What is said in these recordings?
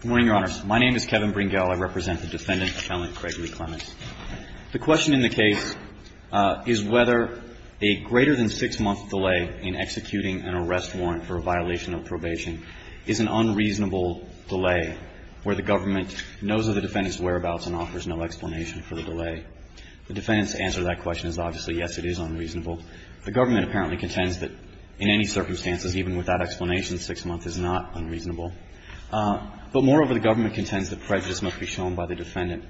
Good morning, Your Honors. My name is Kevin Bringell. I represent the Defendant Appellant Gregory Clements. The question in the case is whether a greater than six-month delay in executing an arrest warrant for a violation of probation is an unreasonable delay where the government knows of the defendant's whereabouts and offers no explanation for the delay. The defendant's answer to that question is obviously, yes, it is unreasonable. The government apparently contends that in any circumstances, even without explanation, a greater than six-month delay is not unreasonable. But moreover, the government contends that prejudice must be shown by the defendant.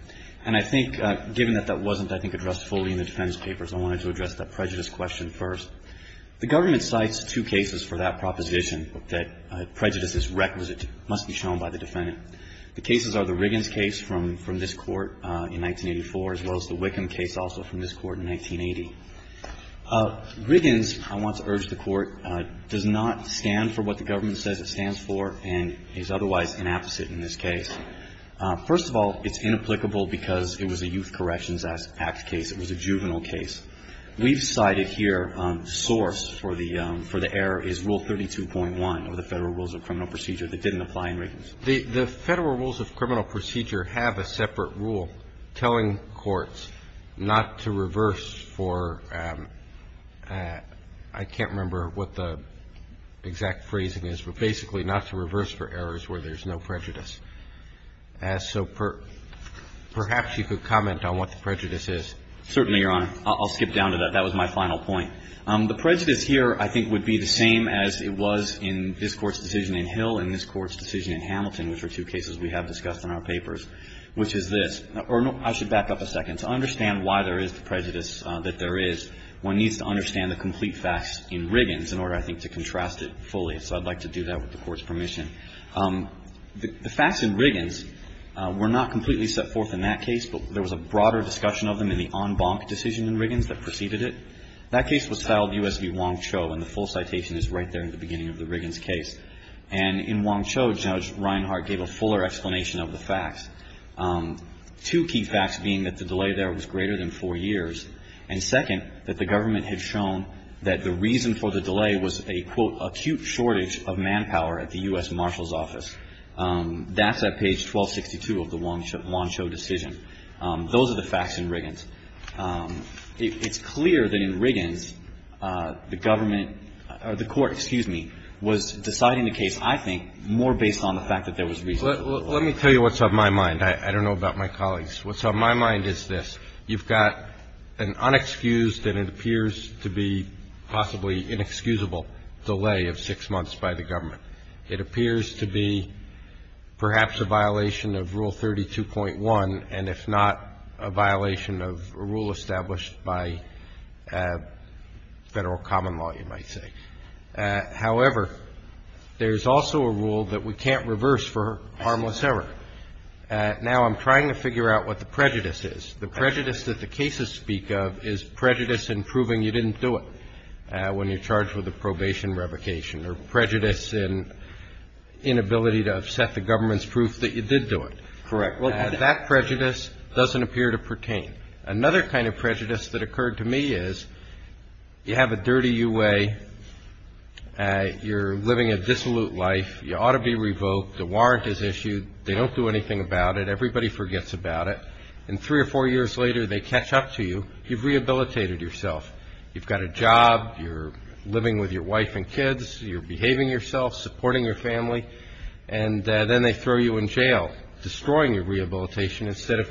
And I think, given that that wasn't, I think, addressed fully in the defendant's papers, I wanted to address that prejudice question first. The government cites two cases for that proposition, that prejudice is requisite, must be shown by the defendant. The cases are the Riggins case from this Court in 1984, as well as the Wickham case also from this Court in 1980. Riggins, I want to urge the Court, does not stand for what the government says it stands for and is otherwise an apposite in this case. First of all, it's inapplicable because it was a Youth Corrections Act case. It was a juvenile case. We've cited here, source for the error is Rule 32.1 of the Federal Rules of Criminal Procedure that didn't apply in Riggins. The Federal Rules of Criminal Procedure have a separate rule telling courts not to reverse for, I can't remember what the exact phrasing is, but basically not to reverse for errors where there's no prejudice. So perhaps you could comment on what the prejudice is. Certainly, Your Honor. I'll skip down to that. That was my final point. The prejudice here, I think, would be the same as it was in this Court's decision in Hill and this Court's decision in Hamilton, which are two cases we have discussed in our papers, but to understand why there is the prejudice that there is, one needs to understand the complete facts in Riggins in order, I think, to contrast it fully. So I'd like to do that with the Court's permission. The facts in Riggins were not completely set forth in that case, but there was a broader discussion of them in the en banc decision in Riggins that preceded it. That case was filed U.S. v. Wong Cho, and the full citation is right there in the beginning of the Riggins case. And in Wong Cho, Judge Reinhardt gave a fuller explanation of the facts, two key facts being that the delay there was greater than four years, and second, that the Government had shown that the reason for the delay was a, quote, acute shortage of manpower at the U.S. Marshal's office. That's at page 1262 of the Wong Cho decision. Those are the facts in Riggins. It's clear that in Riggins, the Government or the Court, excuse me, was deciding the case, I think, more based on the fact that there was reason for the delay. Let me tell you what's on my mind. I don't know about my colleagues. What's on my mind is this. You've got an unexcused and it appears to be possibly inexcusable delay of six months by the Government. It appears to be perhaps a violation of Rule 32.1, and if not, a violation of a rule established by Federal common law, you might say. However, there's also a rule that we can't reverse for harmless error. Now, I'm trying to figure out what the prejudice is. The prejudice that the cases speak of is prejudice in proving you didn't do it when you're charged with a probation revocation or prejudice in inability to set the Government's proof that you did do it. Correct. That prejudice doesn't appear to pertain. Another kind of prejudice that occurred to me is you have a dirty U.A., you're living a dissolute life, you ought to be revoked, the warrant is issued, they don't do anything about it, everybody forgets about it, and three or four years later they catch up to you, you've rehabilitated yourself. You've got a job, you're living with your wife and kids, you're behaving yourself, supporting your family, and then they throw you in jail, destroying your rehabilitation instead of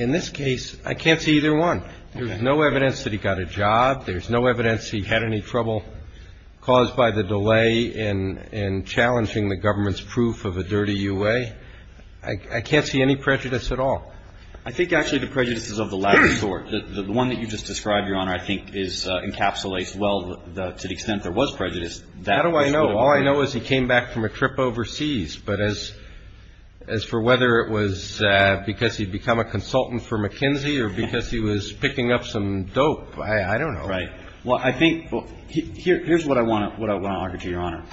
In this case, I can't see either one. There's no evidence that he got a job. There's no evidence he had any trouble caused by the delay in challenging the Government's proof of a dirty U.A. I can't see any prejudice at all. I think actually the prejudice is of the latter sort. The one that you just described, Your Honor, I think encapsulates well to the extent there was prejudice. How do I know? All I know is he came back from a trip overseas. But as for whether it was because he'd become a consultant for McKinsey or because he was picking up some dope, I don't know. Right. Well, I think here's what I want to argue, Your Honor,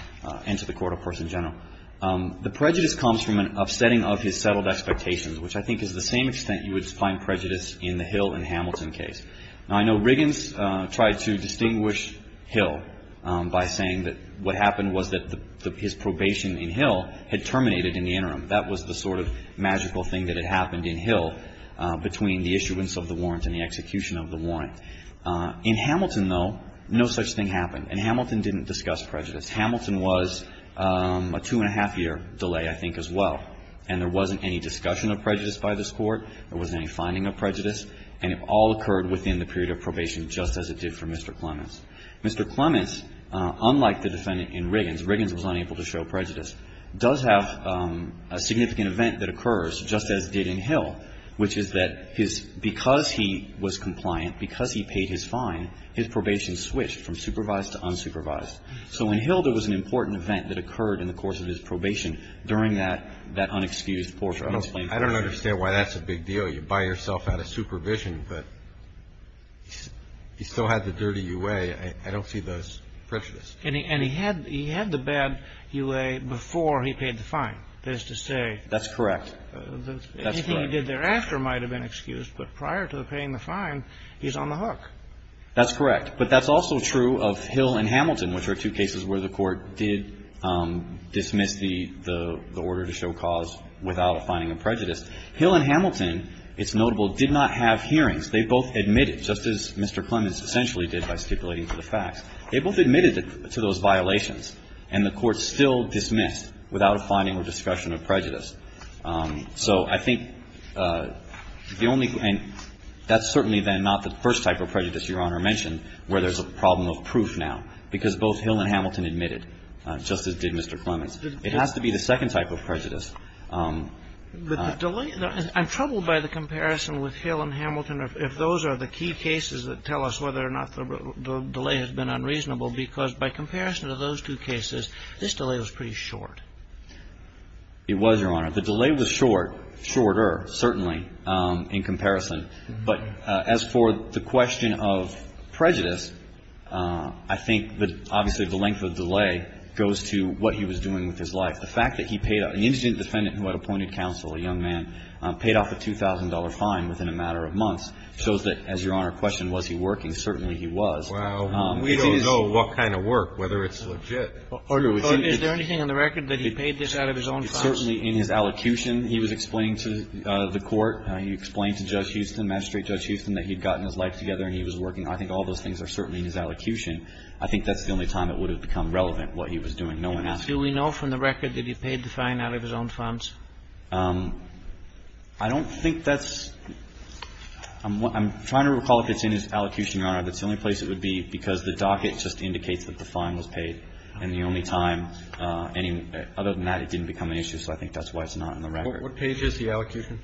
and to the Court, of course, in general. The prejudice comes from an upsetting of his settled expectations, which I think is the same extent you would find prejudice in the Hill and Hamilton case. Now, I know Riggins tried to distinguish Hill by saying that what happened was that his probation in Hill had terminated in the interim. That was the sort of magical thing that had happened in Hill between the issuance of the warrant and the execution of the warrant. In Hamilton, though, no such thing happened. And Hamilton didn't discuss prejudice. Hamilton was a two-and-a-half-year delay, I think, as well. And there wasn't any discussion of prejudice by this Court. There wasn't any finding of prejudice. And it all occurred within the period of probation, just as it did for Mr. Clements. Mr. Clements, unlike the defendant in Riggins, Riggins was unable to show prejudice, does have a significant event that occurs, just as it did in Hill, which is that his – because he was compliant, because he paid his fine, his probation switched from supervised to unsupervised. So in Hill, there was an important event that occurred in the course of his probation during that unexcused portion of the claim. I don't understand why that's a big deal. You buy yourself out of supervision, but he still had the dirty U.A. I don't see those prejudices. And he had the bad U.A. before he paid the fine. That is to say – That's correct. Anything he did thereafter might have been excused, but prior to paying the fine, he's on the hook. That's correct. But that's also true of Hill and Hamilton, which are two cases where the Court did dismiss the order to show cause without a finding of prejudice. Hill and Hamilton, it's notable, did not have hearings. They both admitted, just as Mr. Clements essentially did by stipulating to the facts. They both admitted to those violations, and the Court still dismissed without a finding or discussion of prejudice. So I think the only – and that's certainly then not the first type of prejudice Your Honor mentioned where there's a problem of proof now, because both Hill and Hamilton admitted, just as did Mr. Clements. It has to be the second type of prejudice. But the delay – I'm troubled by the comparison with Hill and Hamilton, if those are the key cases that tell us whether or not the delay has been unreasonable, because by comparison to those two cases, this delay was pretty short. It was, Your Honor. The delay was short – shorter, certainly, in comparison. But as for the question of prejudice, I think that obviously the length of delay goes to what he was doing with his life. The fact that he paid – an indigent defendant who had appointed counsel, a young man, paid off a $2,000 fine within a matter of months shows that, as Your Honor questioned, was he working? Certainly, he was. If it is – Well, we don't know what kind of work, whether it's legit. Order. Is there anything on the record that he paid this out of his own funds? It's certainly in his allocution he was explaining to the Court. He explained to Judge Houston, Magistrate Judge Houston, that he'd gotten his life together and he was working. I think all those things are certainly in his allocution. I think that's the only time it would have become relevant, what he was doing. No one else. Do we know from the record that he paid the fine out of his own funds? I don't think that's – I'm trying to recall if it's in his allocution, Your Honor. That's the only place it would be, because the docket just indicates that the fine was paid. And the only time any – other than that, it didn't become an issue. So I think that's why it's not in the record. What page is the allocution?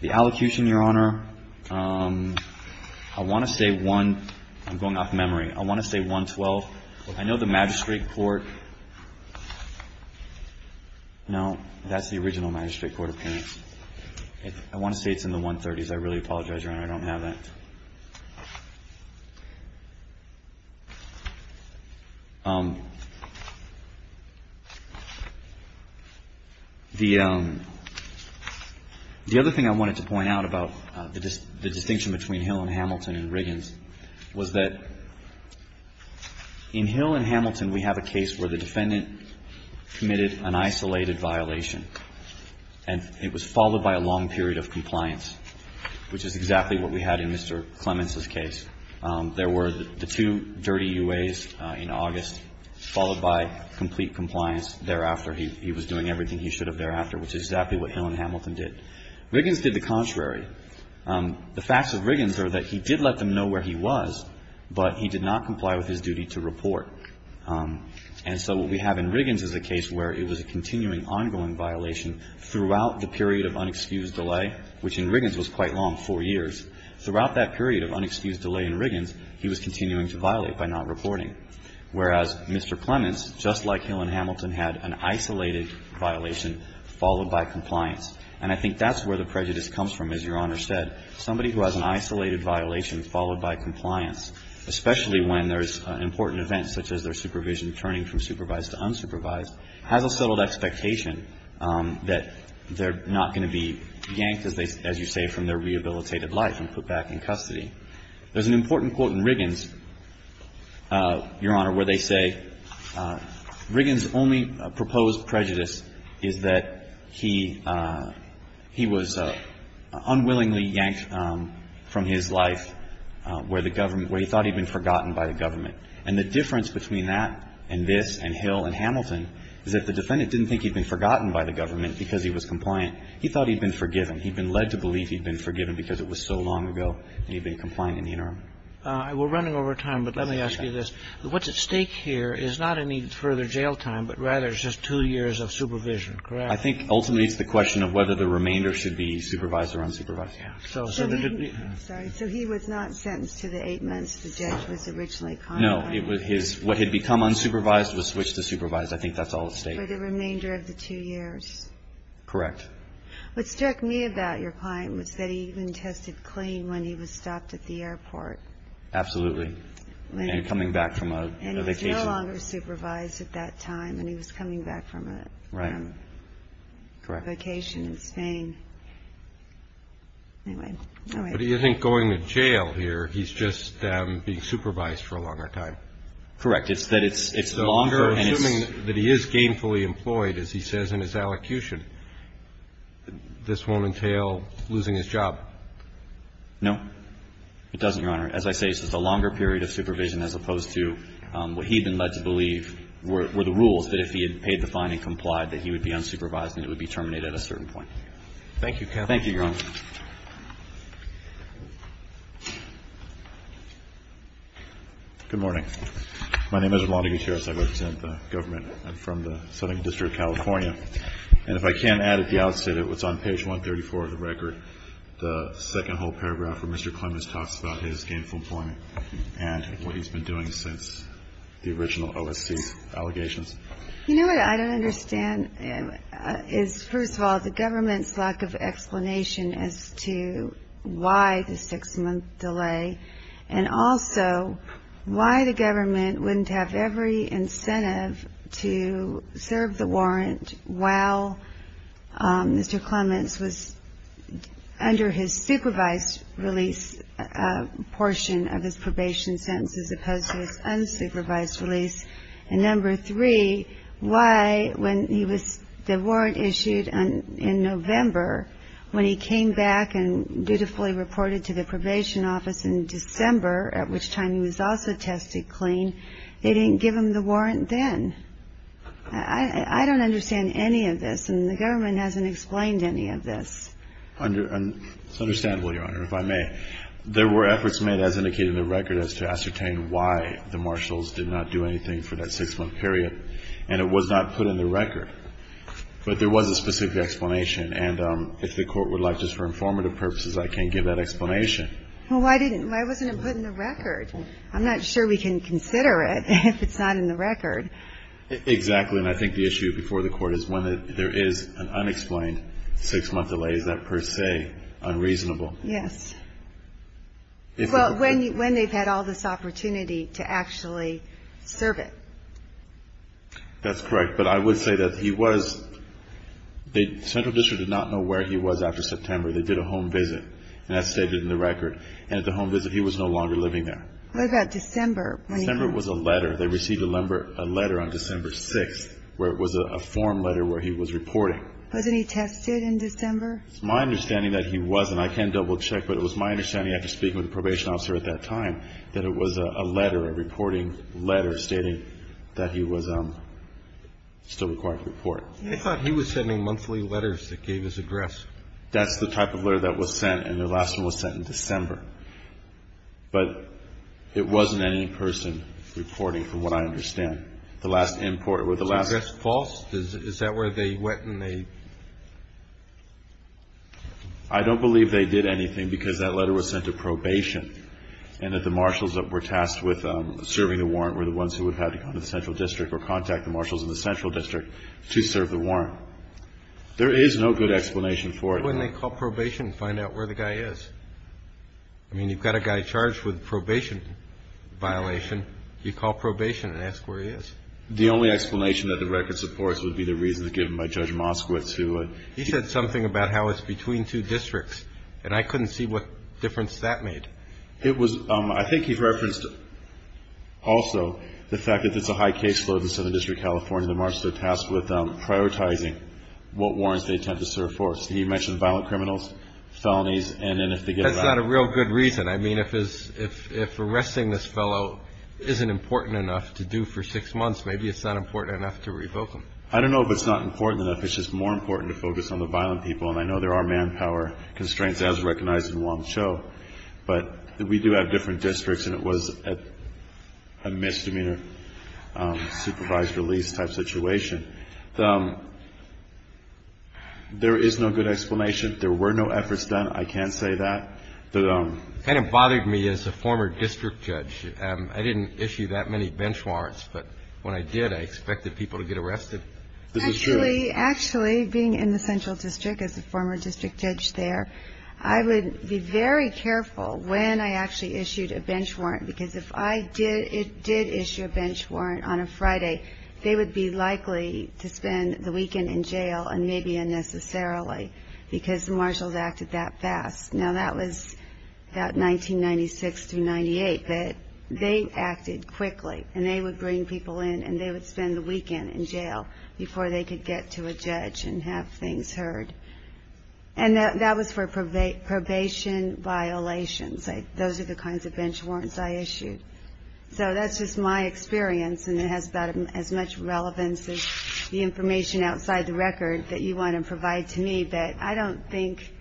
The allocution, Your Honor, I want to say one – I'm going off memory. I want to say 112. I know the magistrate court – no, that's the original magistrate court appearance. I want to say it's in the 130s. I really apologize, Your Honor, I don't have that. The other thing I wanted to point out about the distinction between Hill and Hamilton and Riggins was that in Hill and Hamilton, we have a case where the defendant committed an isolated violation, and it was followed by a long period of compliance, which is exactly what we had in Mr. Clements' case. There were the two dirty UAs in August, followed by complete compliance thereafter. He was doing everything he should have thereafter, which is exactly what Hill and Hamilton did. Riggins did the contrary. The facts of Riggins are that he did let them know where he was, but he did not comply with his duty to report. And so what we have in Riggins is a case where it was a continuing, ongoing violation throughout the period of unexcused delay, which in Riggins was quite long, four years. Throughout that period of unexcused delay in Riggins, he was continuing to violate by not reporting, whereas Mr. Clements, just like Hill and Hamilton, had an isolated violation followed by compliance. And I think that's where the prejudice comes from, as Your Honor said. Somebody who has an isolated violation followed by compliance, especially when there's an important event such as their supervision turning from supervised to unsupervised, has a settled expectation that they're not going to be yanked, as you say, from their rehabilitated life and put back in custody. There's an important quote in Riggins, Your Honor, where they say, Riggins' only proposed prejudice is that he was unwillingly yanked from his life where the government – where he thought he'd been forgotten by the government. And the difference between that and this and Hill and Hamilton is that the defendant didn't think he'd been forgotten by the government because he was compliant. He thought he'd been forgiven. He'd been led to believe he'd been forgiven because it was so long ago and he'd been compliant in the interim. We're running over time, but let me ask you this. What's at stake here is not any further jail time, but rather it's just two years of supervision, correct? I think ultimately it's the question of whether the remainder should be supervised or unsupervised. Yeah. So he – Sorry. So he was not sentenced to the eight months the judge was originally compliant? No. It was his – what had become unsupervised was switched to supervised. I think that's all at stake. For the remainder of the two years? Correct. What struck me about your client was that he even tested clean when he was stopped at the airport. Absolutely. And coming back from a vacation. And he was no longer supervised at that time and he was coming back from a vacation in Spain. Anyway. What do you think going to jail here, he's just being supervised for a longer time? Correct. It's that it's longer and it's – Assuming that he is gainfully employed, as he says in his allocution, this won't entail losing his job? No. It doesn't, Your Honor. As I say, it's a longer period of supervision as opposed to what he had been led to believe were the rules that if he had paid the fine and complied that he would be unsupervised and it would be terminated at a certain point. Thank you, Kevin. Thank you, Your Honor. Good morning. My name is Rolando Gutierrez. I represent the government. I'm from the Southern District of California. And if I can add at the outset, it was on page 134 of the record, the second whole paragraph of time. And I think it's important to point out that he was not supervised for a longer period of time, but he was gainfully employed. Thank you. And what he's been doing since the original OSC allegations? You know what I don't understand is, first of all, the government's lack of explanation as to why the six-month delay and also why the government wouldn't have every incentive to serve the warrant while Mr. Clements was under his supervised release portion of the probation sentence as opposed to his unsupervised release. And number three, why when the warrant issued in November, when he came back and dutifully reported to the probation office in December, at which time he was also tested clean, they didn't give him the warrant then. I don't understand any of this, and the government hasn't explained any of this. It's understandable, Your Honor, if I may. There were efforts made, as indicated in the record, as to ascertain why the marshals did not do anything for that six-month period, and it was not put in the record. But there was a specific explanation, and if the Court would like, just for informative purposes, I can give that explanation. Well, why wasn't it put in the record? I'm not sure we can consider it if it's not in the record. Exactly. And I think the issue before the Court is when there is an unexplained six-month delay, is that per se unreasonable? Yes. Well, when they've had all this opportunity to actually serve it. That's correct. But I would say that he was, the Central District did not know where he was after September. They did a home visit, and that's stated in the record. And at the home visit, he was no longer living there. What about December? December was a letter. They received a letter on December 6th where it was a form letter where he was reporting. Wasn't he tested in December? It's my understanding that he wasn't. I can't double-check, but it was my understanding after speaking with the probation officer at that time that it was a letter, a reporting letter stating that he was still required to report. I thought he was sending monthly letters that gave his address. That's the type of letter that was sent, and the last one was sent in December. But it wasn't any person reporting, from what I understand. The last import or the last address false, is that where they went and they? I don't believe they did anything because that letter was sent to probation, and that the marshals that were tasked with serving the warrant were the ones who would have had to go to the Central District or contact the marshals in the Central District to serve the warrant. There is no good explanation for it. Well, wouldn't they call probation and find out where the guy is? I mean, you've got a guy charged with a probation violation. You call probation and ask where he is. The only explanation that the record supports would be the reasons given by Judge Moskowitz. He said something about how it's between two districts, and I couldn't see what difference that made. It was, I think he referenced also the fact that it's a high case load in Southern District California. The marshals are tasked with prioritizing what warrants they tend to serve for. He mentioned violent criminals, felonies, and then if they get? That's not a real good reason. I mean, if arresting this fellow isn't important enough to do for six months, maybe it's not important enough to revoke him. I don't know if it's not important enough. It's just more important to focus on the violent people, and I know there are manpower constraints as recognized in Wong Cho, but we do have different districts, and it was a misdemeanor supervised release type situation. There is no good explanation. There were no efforts done. I can say that. It kind of bothered me as a former district judge. I didn't issue that many bench warrants, but when I did, I expected people to get arrested. Actually, being in the Central District as a former district judge there, I would be very careful when I actually issued a bench warrant, because if I did issue a bench warrant on a Friday, they would be likely to spend the weekend in jail, and maybe unnecessarily, because the marshals acted that fast. Now, that was about 1996 through 98, but they acted quickly, and they would bring people in, and they would spend the weekend in jail before they could get to a judge and have things heard, and that was for probation violations. Those are the kinds of bench warrants I issued. So that's just my experience, and it has about as much relevance as the information outside the record that you want to provide to me, but I don't think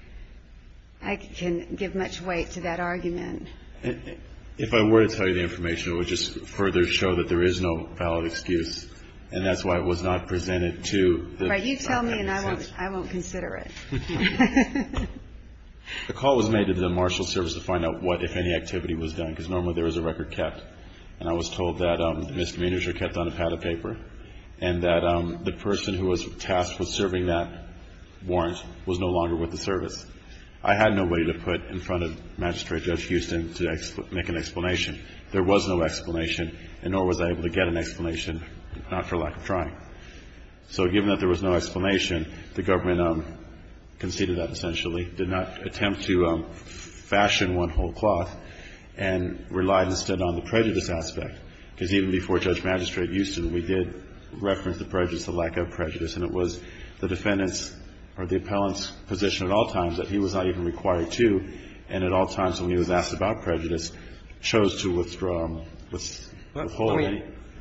I can give much weight to that argument. If I were to tell you the information, it would just further show that there is no valid excuse, and that's why it was not presented to the... Right. You tell me, and I won't consider it. The call was made to the marshal's service to find out what, if any, activity was done, because normally there was a record kept, and I was told that misdemeanors are kept on a pad of paper, and that the person who was tasked with serving that warrant was no longer with the service. I had no way to put in front of Magistrate Judge Houston to make an explanation. There was no explanation, and nor was I able to get an explanation, not for lack of trying. So given that there was no explanation, the government conceded that essentially, did not attempt to fashion one whole cloth, and relied instead on the prejudice aspect, because even before Judge Magistrate Houston, we did reference the prejudice, the lack of prejudice, and it was the defendant's or the appellant's position at all times that he was not even required to, and at all times when he was asked about prejudice, chose to withdraw. Let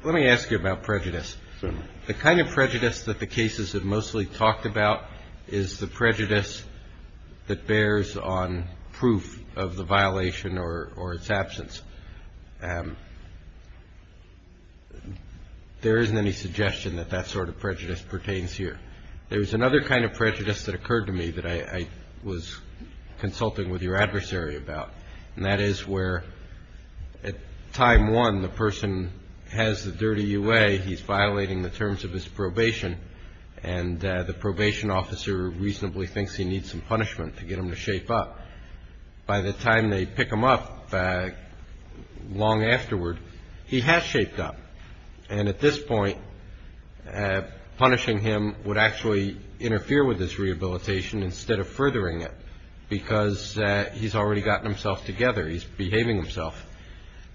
me ask you about prejudice. Certainly. The kind of prejudice that the cases have mostly talked about is the prejudice that bears on proof of the violation or its absence. There isn't any suggestion that that sort of prejudice pertains here. There was another kind of prejudice that occurred to me that I was consulting with your adversary about, and that is where at time one, the person has the dirty UA, he's violating the terms of his probation, and the probation officer reasonably thinks he needs some punishment to get him to shape up. By the time they pick him up long afterward, he has shaped up, and at this point punishing him would actually interfere with his rehabilitation instead of furthering it, because he's already gotten himself together, he's behaving himself.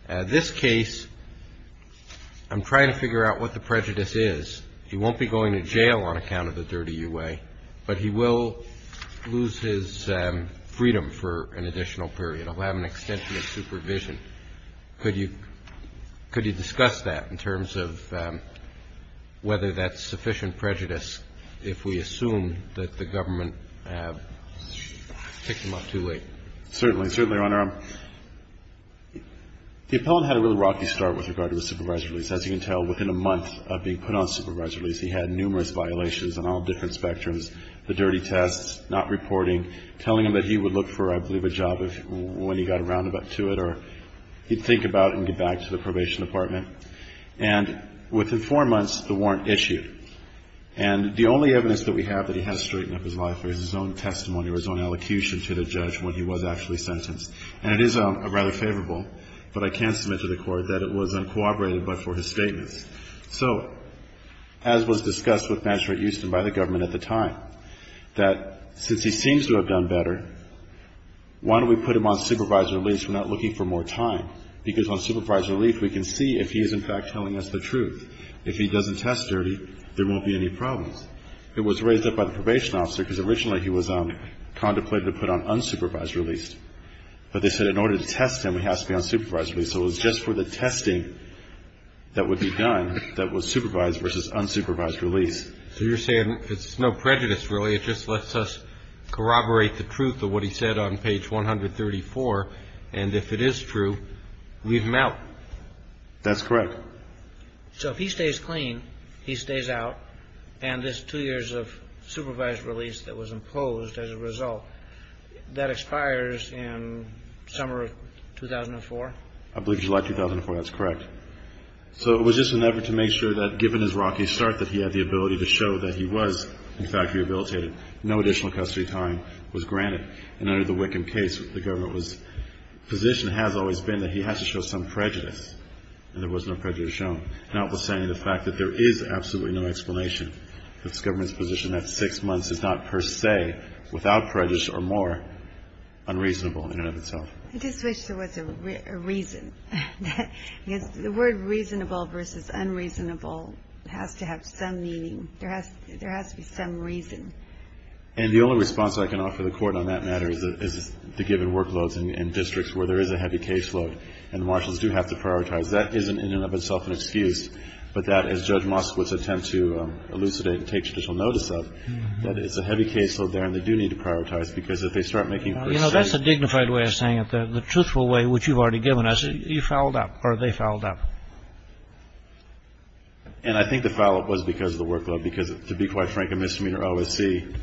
This case, I'm trying to figure out what the prejudice is. He won't be going to jail on account of the dirty UA, but he will lose his freedom for an additional period. He'll have an extension of supervision. Could you discuss that in terms of whether that's sufficient prejudice if we assume that the government picked him up too late? Certainly. Certainly, Your Honor. The appellant had a really rocky start with regard to his supervisory release. As you can tell, within a month of being put on supervisory release, he had numerous violations on all different spectrums, the dirty tests, not reporting, telling him that he would look for, I believe, a job when he got a roundabout to it, or he'd think about it and get back to the probation department. And within four months, the warrant issued. And the only evidence that we have that he has straightened up his life is his own testimony or his own elocution to the judge when he was actually sentenced. And it is rather favorable, but I can submit to the Court that it was uncooperative but for his statements. So as was discussed with Magistrate Houston by the government at the time, that since he seems to have done better, why don't we put him on supervisory release? We're not looking for more time, because on supervisory release, we can see if he is, in fact, telling us the truth. If he doesn't test dirty, there won't be any problems. It was raised up by the probation officer, because originally he was contemplated to put on unsupervised release. But they said in order to test him, he has to be on supervised release. So it was just for the testing that would be done that was supervised versus unsupervised release. So you're saying it's no prejudice, really. It just lets us corroborate the truth of what he said on page 134. And if it is true, leave him out. That's correct. So if he stays clean, he stays out, and this two years of supervised release that was imposed as a result, that expires in summer of 2004? I believe July 2004. That's correct. So it was just an effort to make sure that, given his rocky start, that he had the ability to show that he was, in fact, rehabilitated. No additional custody time was granted. And under the Wickham case, the government's position has always been that he has to show some prejudice. And there was no prejudice shown. Now it was saying the fact that there is absolutely no explanation. The government's position that six months is not per se, without prejudice or more, unreasonable in and of itself. I just wish there was a reason. The word reasonable versus unreasonable has to have some meaning. There has to be some reason. And the only response I can offer the Court on that matter is the given workloads and districts where there is a heavy caseload. And the marshals do have to prioritize. That is, in and of itself, an excuse. But that, as Judge Moskowitz attempts to elucidate and take judicial notice of, that it's a heavy caseload there, and they do need to prioritize, because if they start making first sight of it. You know, that's a dignified way of saying it. The truthful way, which you've already given us, you fouled up, or they fouled up. And I think the foul up was because of the workload. Because, to be quite frank, a misdemeanor OSC,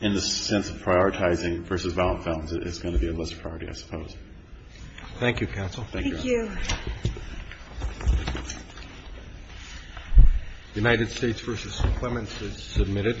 in the sense of prioritizing versus violent felons, is going to be a lesser priority, I suppose. Thank you, counsel. Thank you, Your Honor. Thank you. The United States v. Clements is submitted.